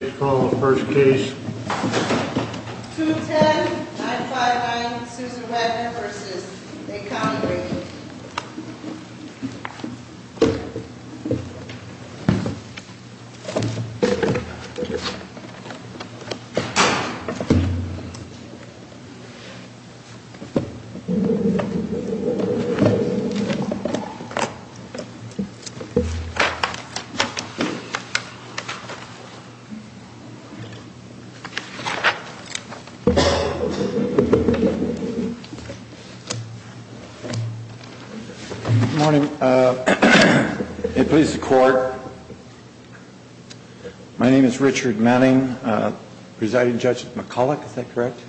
Let's call the first case. 210-959 Susan Wagner v. A. Connery Good morning. It pleases the court. My name is Richard Manning, presiding judge McCulloch, is that correct?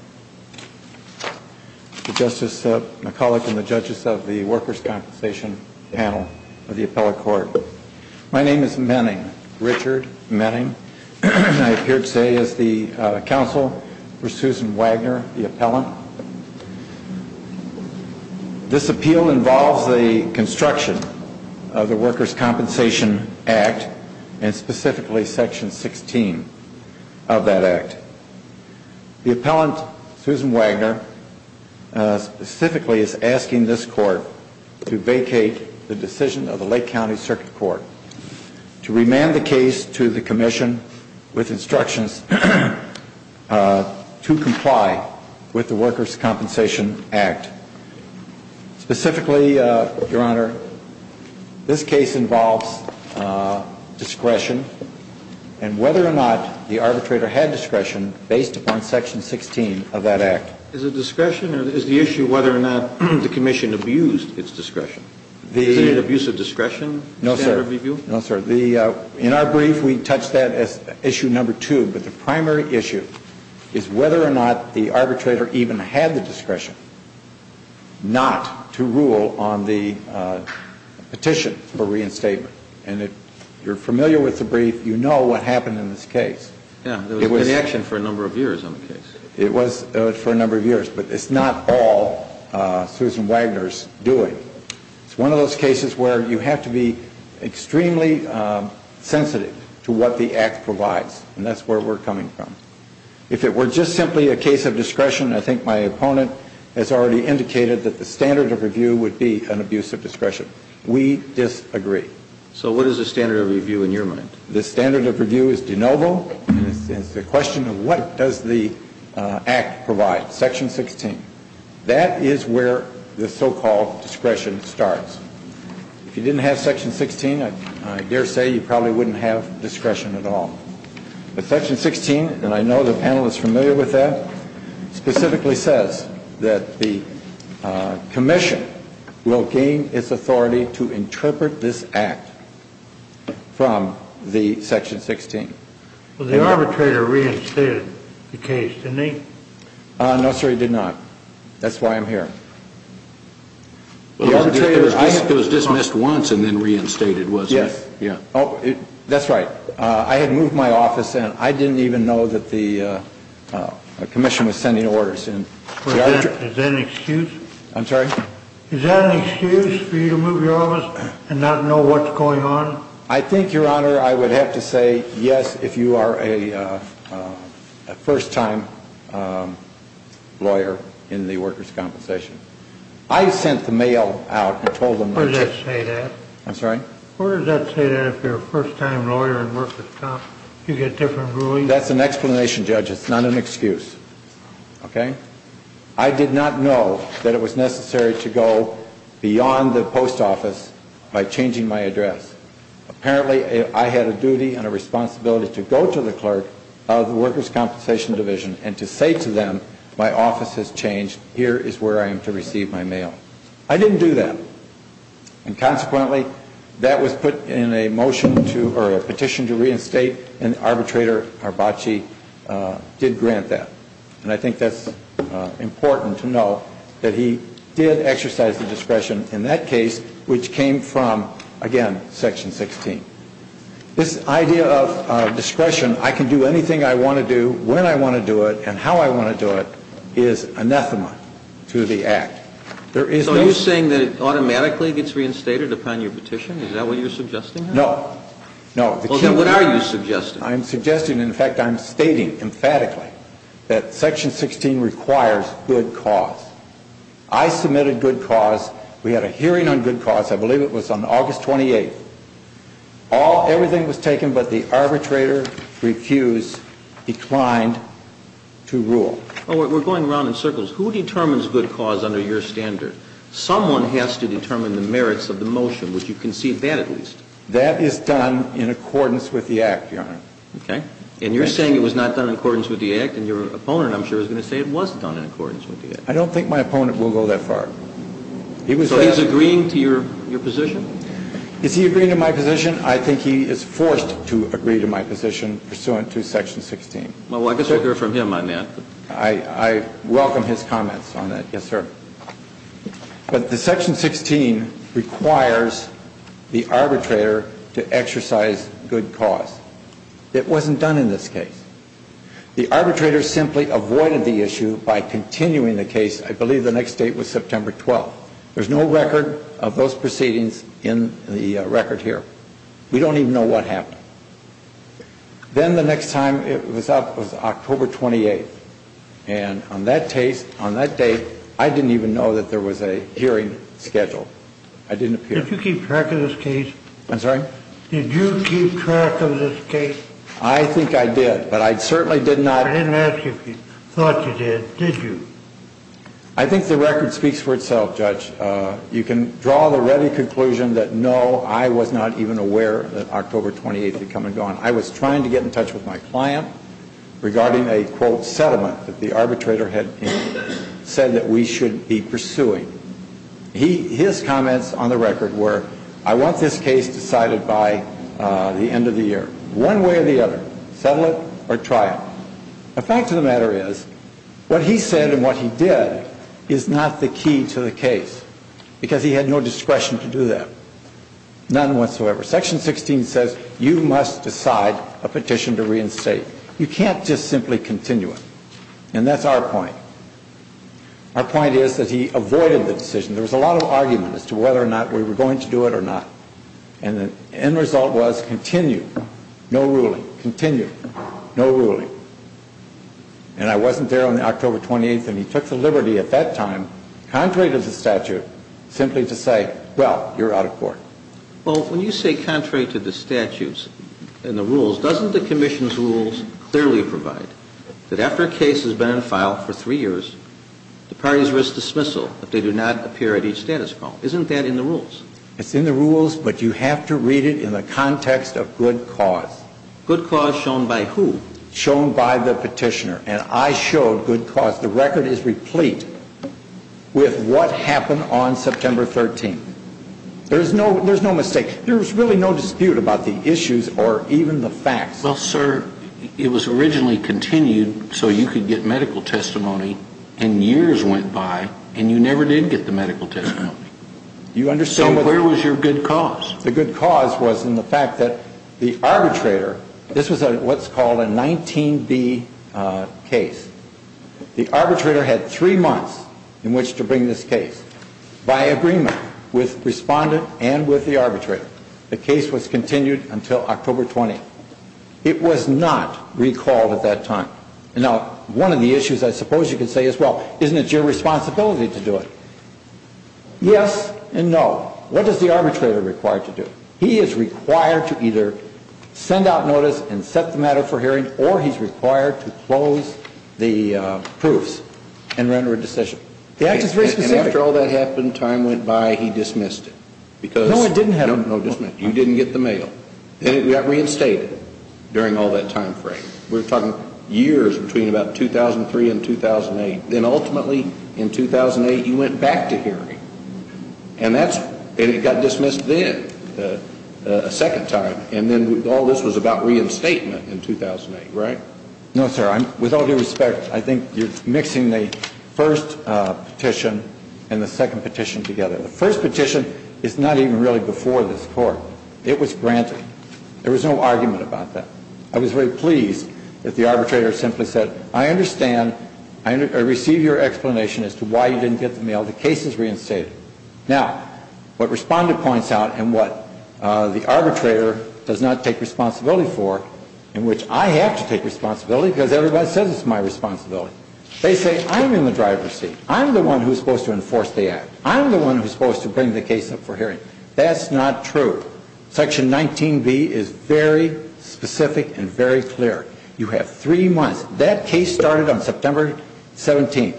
Thank you, Justice McCulloch and the judges of the Workers' Compensation panel of the appellate court. My name is Manning, Richard Manning, and I appear today as the counsel for Susan Wagner, the appellant. This appeal involves the construction of the Workers' Compensation Act, and specifically Section 16 of that act. The appellant, Susan Wagner, specifically is asking this court to vacate the decision of the Lake County Circuit Court, to remand the case to the commission with instructions to comply with the Workers' Compensation Act. Specifically, Your Honor, this case involves discretion, and whether or not the arbitrator had discretion based upon Section 16 of that act. Is it discretion, or is the issue whether or not the commission abused its discretion? No, sir. In our brief, we touch that as issue number two, but the primary issue is whether or not the arbitrator even had the discretion not to rule on the petition for reinstatement. And if you're familiar with the brief, you know what happened in this case. It was in action for a number of years on the case. It was for a number of years, but it's not all Susan Wagner's doing. It's one of those cases where you have to be extremely sensitive to what the act provides, and that's where we're coming from. If it were just simply a case of discretion, I think my opponent has already indicated that the standard of review would be an abuse of discretion. We disagree. So what is the standard of review in your mind? The standard of review is de novo, and it's the question of what does the act provide, Section 16. That is where the so-called discretion starts. If you didn't have Section 16, I dare say you probably wouldn't have discretion at all. Section 16, and I know the panel is familiar with that, specifically says that the commission will gain its authority to interpret this act from the Section 16. Well, the arbitrator reinstated the case, didn't he? No, sir, he did not. That's why I'm here. It was dismissed once and then reinstated, wasn't it? Yes. That's right. I had moved my office, and I didn't even know that the commission was sending orders. Is that an excuse? I'm sorry? Is that an excuse for you to move your office and not know what's going on? I think, Your Honor, I would have to say yes if you are a first-time lawyer in the workers' compensation. I sent the mail out and told them. Where does that say that? I'm sorry? Where does that say that if you're a first-time lawyer in workers' comp, you get different rulings? That's an explanation, Judge. It's not an excuse. Okay? I did not know that it was necessary to go beyond the post office by changing my address. Apparently, I had a duty and a responsibility to go to the clerk of the workers' compensation division and to say to them, my office has changed, here is where I am to receive my mail. I didn't do that. And, consequently, that was put in a petition to reinstate, and Arbitrator Arbacci did grant that. And I think that's important to know, that he did exercise the discretion in that case, which came from, again, Section 16. This idea of discretion, I can do anything I want to do, when I want to do it, and how I want to do it, is anathema to the Act. So are you saying that it automatically gets reinstated upon your petition? Is that what you're suggesting? No. No. Well, then what are you suggesting? I'm suggesting, in fact, I'm stating emphatically that Section 16 requires good cause. I submitted good cause. We had a hearing on good cause. I believe it was on August 28th. Everything was taken, but the arbitrator refused, declined to rule. Well, we're going around in circles. Who determines good cause under your standard? Someone has to determine the merits of the motion. Would you concede that, at least? That is done in accordance with the Act, Your Honor. Okay. And you're saying it was not done in accordance with the Act? And your opponent, I'm sure, is going to say it was done in accordance with the Act. I don't think my opponent will go that far. So he's agreeing to your position? Is he agreeing to my position? I think he is forced to agree to my position pursuant to Section 16. Well, I could hear from him on that. I welcome his comments on that. Yes, sir. But the Section 16 requires the arbitrator to exercise good cause. It wasn't done in this case. The arbitrator simply avoided the issue by continuing the case. I believe the next date was September 12th. There's no record of those proceedings in the record here. We don't even know what happened. Then the next time it was up was October 28th. And on that date, I didn't even know that there was a hearing scheduled. I didn't appear. Did you keep track of this case? I'm sorry? Did you keep track of this case? I think I did, but I certainly did not. I didn't ask you if you thought you did. Did you? I think the record speaks for itself, Judge. You can draw the ready conclusion that, no, I was not even aware that October 28th had come and gone. I was trying to get in touch with my client regarding a, quote, settlement that the arbitrator had said that we should be pursuing. His comments on the record were, I want this case decided by the end of the year. One way or the other. Settle it or try it. The fact of the matter is, what he said and what he did is not the key to the case. Because he had no discretion to do that. None whatsoever. Section 16 says you must decide a petition to reinstate. You can't just simply continue it. And that's our point. Our point is that he avoided the decision. There was a lot of argument as to whether or not we were going to do it or not. And the end result was continue. No ruling. Continue. No ruling. And I wasn't there on October 28th. And he took the liberty at that time, contrary to the statute, simply to say, well, you're out of court. Well, when you say contrary to the statutes and the rules, doesn't the commission's rules clearly provide that after a case has been on file for three years, the parties risk dismissal if they do not appear at each status call? Isn't that in the rules? It's in the rules, but you have to read it in the context of good cause. Good cause shown by who? Shown by the petitioner. And I showed good cause. The record is replete with what happened on September 13th. There's no mistake. There was really no dispute about the issues or even the facts. Well, sir, it was originally continued so you could get medical testimony. And years went by, and you never did get the medical testimony. So where was your good cause? The good cause was in the fact that the arbitrator, this was what's called a 19B case. The arbitrator had three months in which to bring this case. By agreement with respondent and with the arbitrator, the case was continued until October 20th. It was not recalled at that time. Now, one of the issues I suppose you could say is, well, isn't it your responsibility to do it? Yes and no. What is the arbitrator required to do? He is required to either send out notice and set the matter for hearing, or he's required to close the proofs and render a decision. The act is very specific. And after all that happened, time went by, he dismissed it. No, I didn't have it. No, you didn't get the mail. And it got reinstated during all that time frame. We're talking years between about 2003 and 2008. Then ultimately in 2008, you went back to hearing. And it got dismissed then a second time. And then all this was about reinstatement in 2008, right? No, sir. With all due respect, I think you're mixing the first petition and the second petition together. The first petition is not even really before this Court. It was granted. There was no argument about that. I was very pleased that the arbitrator simply said, I understand, I receive your explanation as to why you didn't get the mail. The case is reinstated. Now, what Respondent points out and what the arbitrator does not take responsibility for, in which I have to take responsibility because everybody says it's my responsibility, they say I'm in the driver's seat. I'm the one who's supposed to enforce the act. I'm the one who's supposed to bring the case up for hearing. That's not true. Section 19B is very specific and very clear. You have three months. That case started on September 17th.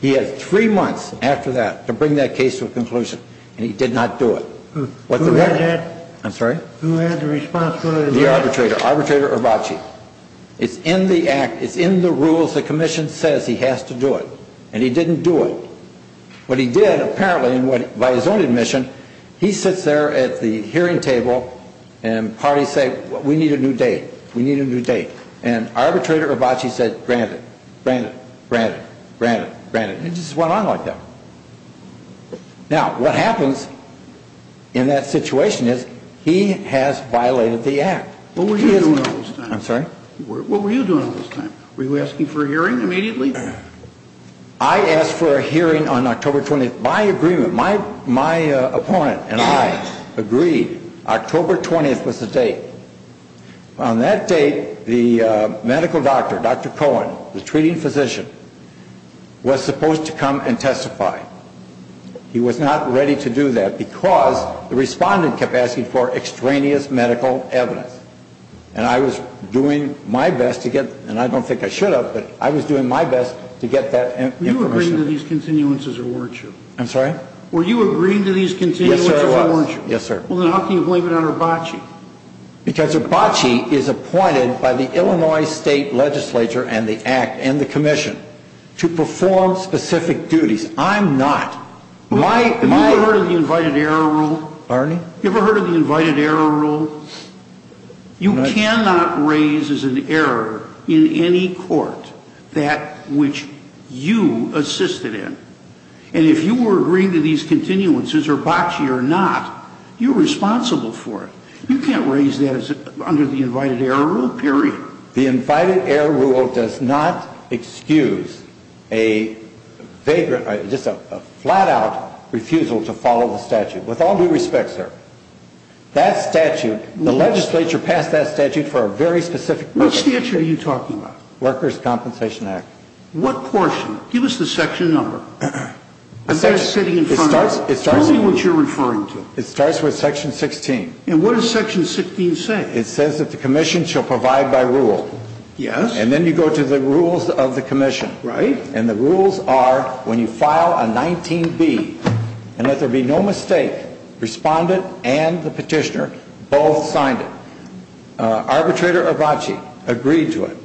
He had three months after that to bring that case to a conclusion. And he did not do it. Who had that? I'm sorry? Who had the responsibility? The arbitrator, Arbitrator Hrabowski. It's in the act. It's in the rules. The Commission says he has to do it. And he didn't do it. What he did, apparently, and by his own admission, he sits there at the hearing table and parties say we need a new date. We need a new date. And Arbitrator Hrabowski said, granted, granted, granted, granted, granted. It just went on like that. Now, what happens in that situation is he has violated the act. What were you doing all this time? I'm sorry? What were you doing all this time? Were you asking for a hearing immediately? I asked for a hearing on October 20th. My agreement, my opponent and I agreed October 20th was the date. On that date, the medical doctor, Dr. Cohen, the treating physician, was supposed to come and testify. He was not ready to do that because the respondent kept asking for extraneous medical evidence. And I was doing my best to get, and I don't think I should have, but I was doing my best to get that information. Were you agreeing to these continuances or weren't you? I'm sorry? Were you agreeing to these continuances or weren't you? Yes, sir, I was. Well, then how can you blame it on Hrabowski? Because Hrabowski is appointed by the Illinois State Legislature and the Act and the Commission to perform specific duties. I'm not. Have you ever heard of the invited error rule? Pardon me? Have you ever heard of the invited error rule? You cannot raise as an error in any court that which you assisted in. And if you were agreeing to these continuances, Hrabowski or not, you're responsible for it. You can't raise that under the invited error rule, period. The invited error rule does not excuse a vagrant, just a flat-out refusal to follow the statute. With all due respect, sir, that statute, the legislature passed that statute for a very specific purpose. Which statute are you talking about? Workers' Compensation Act. What portion? Give us the section number. It starts with section 16. And what does section 16 say? It says that the Commission shall provide by rule. Yes. And then you go to the rules of the Commission. Right. And the rules are when you file a 19B and that there be no mistake, respondent and the petitioner both signed it. Arbitrator Hrabowski agreed to it.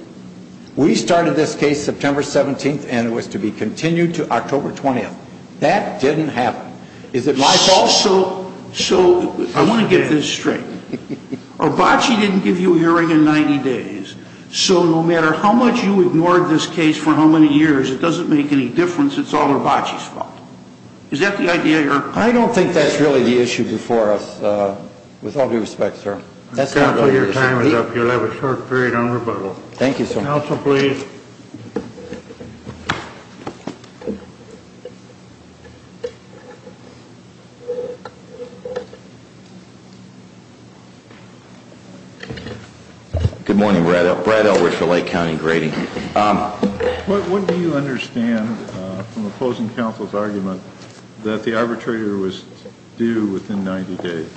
We started this case September 17th and it was to be continued to October 20th. That didn't happen. Is it my fault? So I want to get this straight. Hrabowski didn't give you a hearing in 90 days. So no matter how much you ignored this case for how many years, it doesn't make any difference. It's all Hrabowski's fault. Is that the idea? I don't think that's really the issue before us. With all due respect, sir. Counsel, your time is up. You'll have a short period on rebuttal. Thank you, sir. Counsel, please. Good morning. Brad Elwood for Lake County Grading. What do you understand from opposing counsel's argument that the arbitrator was due within 90 days?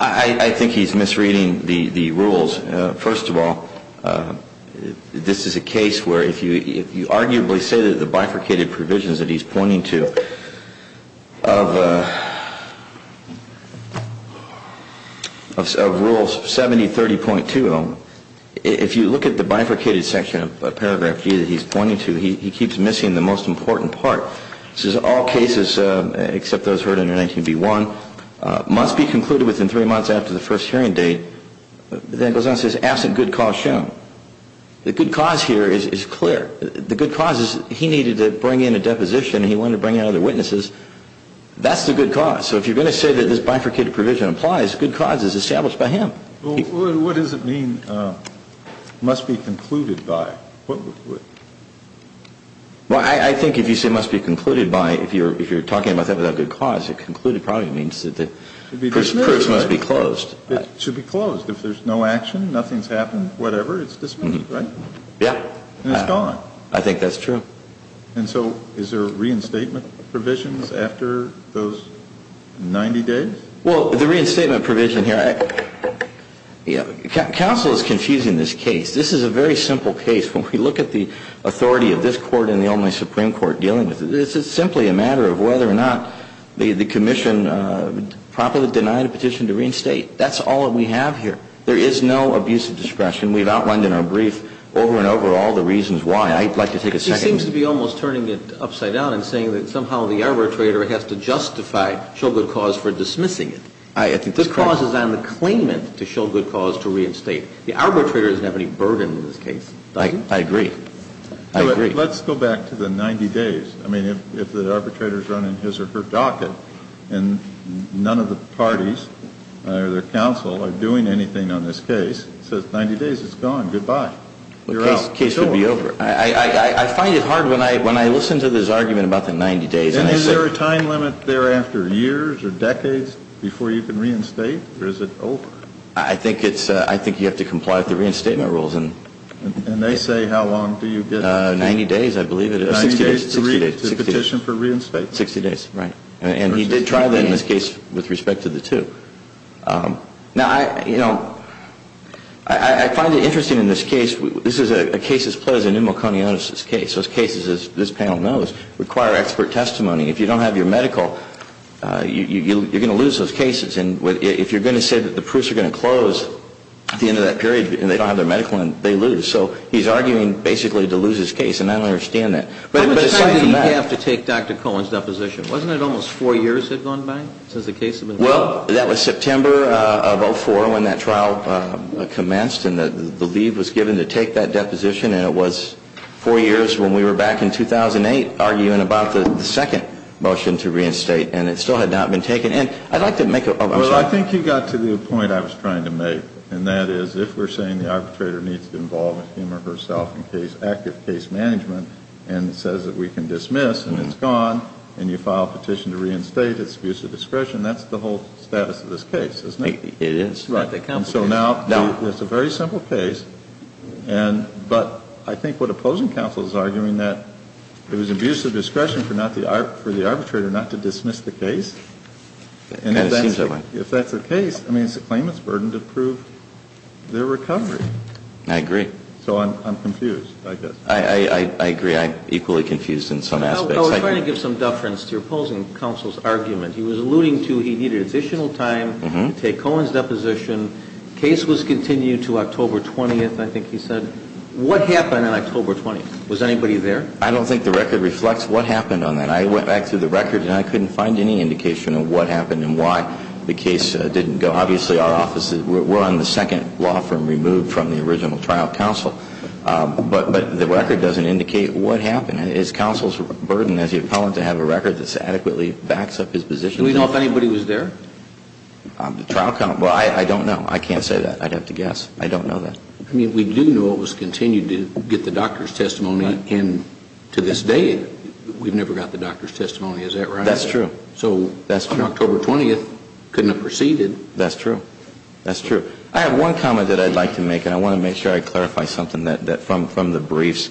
I think he's misreading the rules. First of all, this is a case where if you arguably say that the bifurcated provisions that he's pointing to of Rule 7030.2, if you look at the bifurcated section of Paragraph G that he's pointing to, he keeps missing the most important part. This is all cases except those heard under 19B1. Must be concluded within three months after the first hearing date. Then it goes on and says absent good cause shown. The good cause here is clear. The good cause is he needed to bring in a deposition and he wanted to bring in other witnesses. That's the good cause. So if you're going to say that this bifurcated provision applies, good cause is established by him. What does it mean must be concluded by? Well, I think if you say must be concluded by, if you're talking about that without good cause, it probably means that the proofs must be closed. It should be closed. If there's no action, nothing's happened, whatever, it's dismissed, right? Yeah. And it's gone. I think that's true. And so is there reinstatement provisions after those 90 days? Well, the reinstatement provision here, counsel is confusing this case. This is a very simple case. When we look at the authority of this Court and the only Supreme Court dealing with it, it's simply a matter of whether or not the commission promptly denied a petition to reinstate. That's all that we have here. There is no abusive discretion. We've outlined in our brief over and over all the reasons why. I'd like to take a second. He seems to be almost turning it upside down and saying that somehow the arbitrator has to justify show good cause for dismissing it. I think that's correct. The cause is on the claimant to show good cause to reinstate. The arbitrator doesn't have any burden in this case. I agree. I agree. Let's go back to the 90 days. I mean, if the arbitrator is running his or her docket and none of the parties or the counsel are doing anything on this case, it says 90 days, it's gone, goodbye. You're out. The case would be over. I find it hard when I listen to this argument about the 90 days. And is there a time limit thereafter, years or decades, before you can reinstate or is it over? I think you have to comply with the reinstatement rules. And they say how long do you get? 90 days, I believe. 60 days. 60 days. To petition for reinstatement. 60 days. Right. And he did try that in this case with respect to the two. Now, you know, I find it interesting in this case, this is a case that's played as a pneumoconiosis case. Those cases, as this panel knows, require expert testimony. If you don't have your medical, you're going to lose those cases. And if you're going to say that the proofs are going to close at the end of that period and they don't have their medical, they lose. So he's arguing basically to lose his case. And I don't understand that. But at the same time you have to take Dr. Cohen's deposition. Wasn't it almost four years had gone by since the case had been filed? Well, that was September of 2004 when that trial commenced and the leave was given to take that deposition. And it was four years when we were back in 2008 arguing about the second motion to reinstate. And it still had not been taken. And I'd like to make a point. Well, I think you got to the point I was trying to make, and that is if we're saying the arbitrator needs to involve him or herself in active case management and says that we can dismiss and it's gone, and you file a petition to reinstate, it's abuse of discretion, that's the whole status of this case, isn't it? It is. And so now it's a very simple case. But I think what opposing counsel is arguing that it was abuse of discretion for the arbitrator not to dismiss the case. And if that's the case, I mean, it's the claimant's burden to prove their recovery. I agree. So I'm confused, I guess. I agree. I'm equally confused in some aspects. I was trying to give some deference to opposing counsel's argument. He was alluding to he needed additional time to take Cohen's deposition. The case was continued to October 20th, I think he said. What happened on October 20th? Was anybody there? I don't think the record reflects what happened on that. I went back through the record and I couldn't find any indication of what happened and why the case didn't go. Obviously, our office, we're on the second law firm removed from the original trial counsel. But the record doesn't indicate what happened. It's counsel's burden as the appellant to have a record that adequately backs up his position. Do we know if anybody was there? The trial counsel? Well, I don't know. I can't say that. I'd have to guess. I don't know that. I mean, we do know it was continued to get the doctor's testimony. And to this day, we've never got the doctor's testimony. Is that right? That's true. So on October 20th, couldn't have proceeded. That's true. That's true. I have one comment that I'd like to make, and I want to make sure I clarify something from the briefs.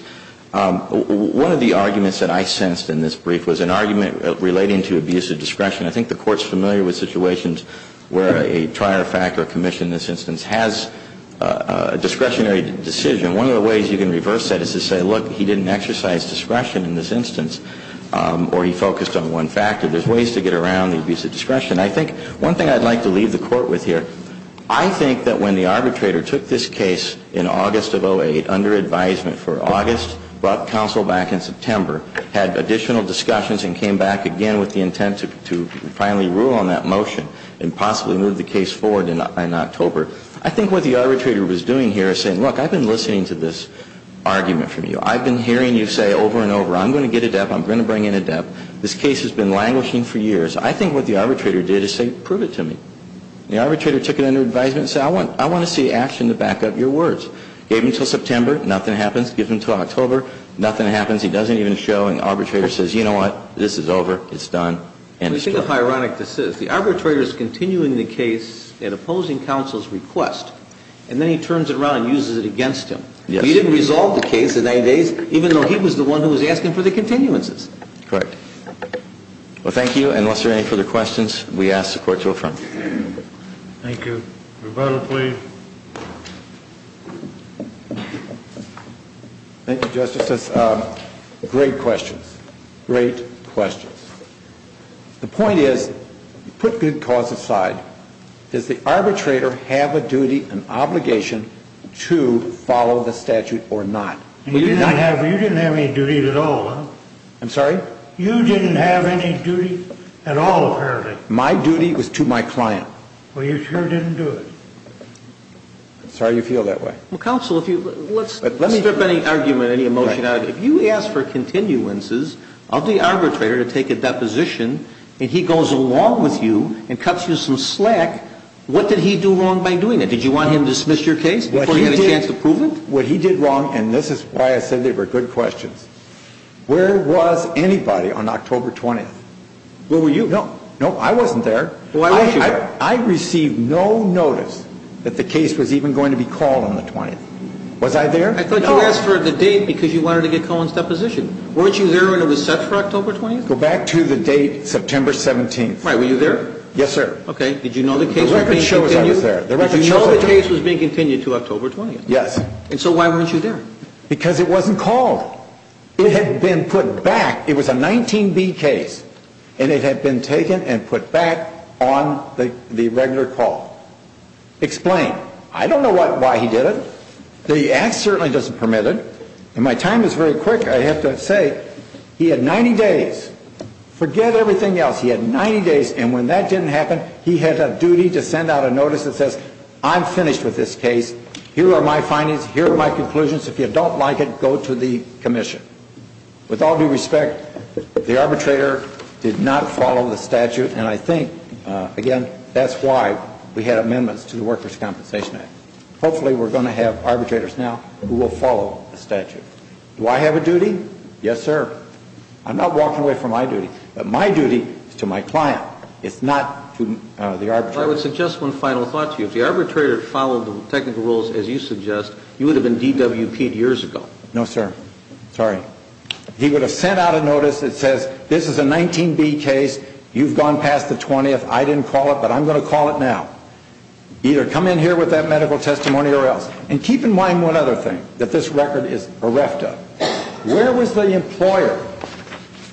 One of the arguments that I sensed in this brief was an argument relating to abuse of discretion. I think the Court's familiar with situations where a trier-factor commission in this instance has a discretionary decision. One of the ways you can reverse that is to say, look, he didn't exercise discretion in this instance, or he focused on one factor. There's ways to get around the abuse of discretion. I think one thing I'd like to leave the Court with here, I think that when the arbitrator took this case in August of 08, under advisement for August, brought counsel back in September, had additional discussions and came back again with the intent to finally rule on that motion and possibly move the case forward in October, I think what the arbitrator was doing here is saying, look, I've been listening to this argument from you. I've been hearing you say over and over, I'm going to get a debt. I'm going to bring in a debt. This case has been languishing for years. I think what the arbitrator did is say, prove it to me. The arbitrator took it under advisement and said, I want to see action to back up your words. Gave him until September. Nothing happens. Gives him until October. Nothing happens. He doesn't even show. And the arbitrator says, you know what? This is over. It's done. I think it's ironic this is. The arbitrator is continuing the case at opposing counsel's request, and then he turns it around and uses it against him. He didn't resolve the case in 90 days, even though he was the one who was asking for the continuances. Correct. Well, thank you. Unless there are any further questions, we ask the Court to affirm. Thank you. Roberto, please. Thank you, Justices. Great questions. The point is, put good cause aside, does the arbitrator have a duty and obligation to follow the statute or not? You didn't have any duties at all, huh? I'm sorry? You didn't have any duty at all, apparently. My duty was to my client. Well, you sure didn't do it. I'm sorry you feel that way. Counsel, let's strip any argument, any emotion out of it. If you ask for continuances of the arbitrator to take a deposition, and he goes along with you and cuts you some slack, what did he do wrong by doing that? Did you want him to dismiss your case before he had a chance to prove it? What he did wrong, and this is why I said they were good questions, where was anybody on October 20th? Where were you? No, I wasn't there. Why weren't you there? I received no notice that the case was even going to be called on the 20th. Was I there? I thought you asked for the date because you wanted to get Cohen's deposition. Weren't you there when it was set for October 20th? Go back to the date, September 17th. Right, were you there? Yes, sir. Okay, did you know the case was being continued? The record shows I was there. Did you know the case was being continued to October 20th? Yes. And so why weren't you there? Because it wasn't called. It had been put back. It was a 19B case, and it had been taken and put back on the regular call. Explain. I don't know why he did it. The act certainly doesn't permit it. And my time is very quick, I have to say. He had 90 days. Forget everything else. He had 90 days, and when that didn't happen, he had a duty to send out a notice that says, I'm finished with this case. Here are my findings. Here are my conclusions. If you don't like it, go to the commission. With all due respect, the arbitrator did not follow the statute, and I think, again, that's why we had amendments to the Workers' Compensation Act. Hopefully we're going to have arbitrators now who will follow the statute. Do I have a duty? Yes, sir. I'm not walking away from my duty. But my duty is to my client. It's not to the arbitrator. I would suggest one final thought to you. If the arbitrator had followed the technical rules as you suggest, you would have been DWP'd years ago. No, sir. Sorry. He would have sent out a notice that says, this is a 19B case. You've gone past the 20th. I didn't call it, but I'm going to call it now. Either come in here with that medical testimony or else. And keep in mind one other thing, that this record is EREFTA. Where was the employer?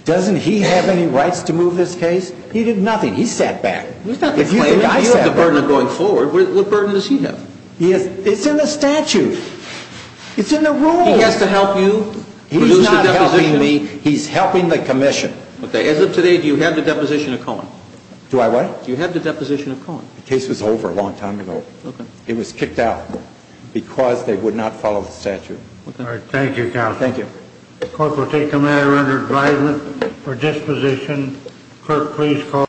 Doesn't he have any rights to move this case? He did nothing. He sat back. If you feel the burden of going forward, what burden does he have? It's in the statute. It's in the rules. He has to help you. He's not helping me. He's helping the commission. Do I what? Do you have the deposition of Cohen? The case was over a long time ago. It was kicked out because they would not follow the statute. All right. Thank you, counsel. Thank you. The court will take the matter under advisement for disposition. Clerk, please call.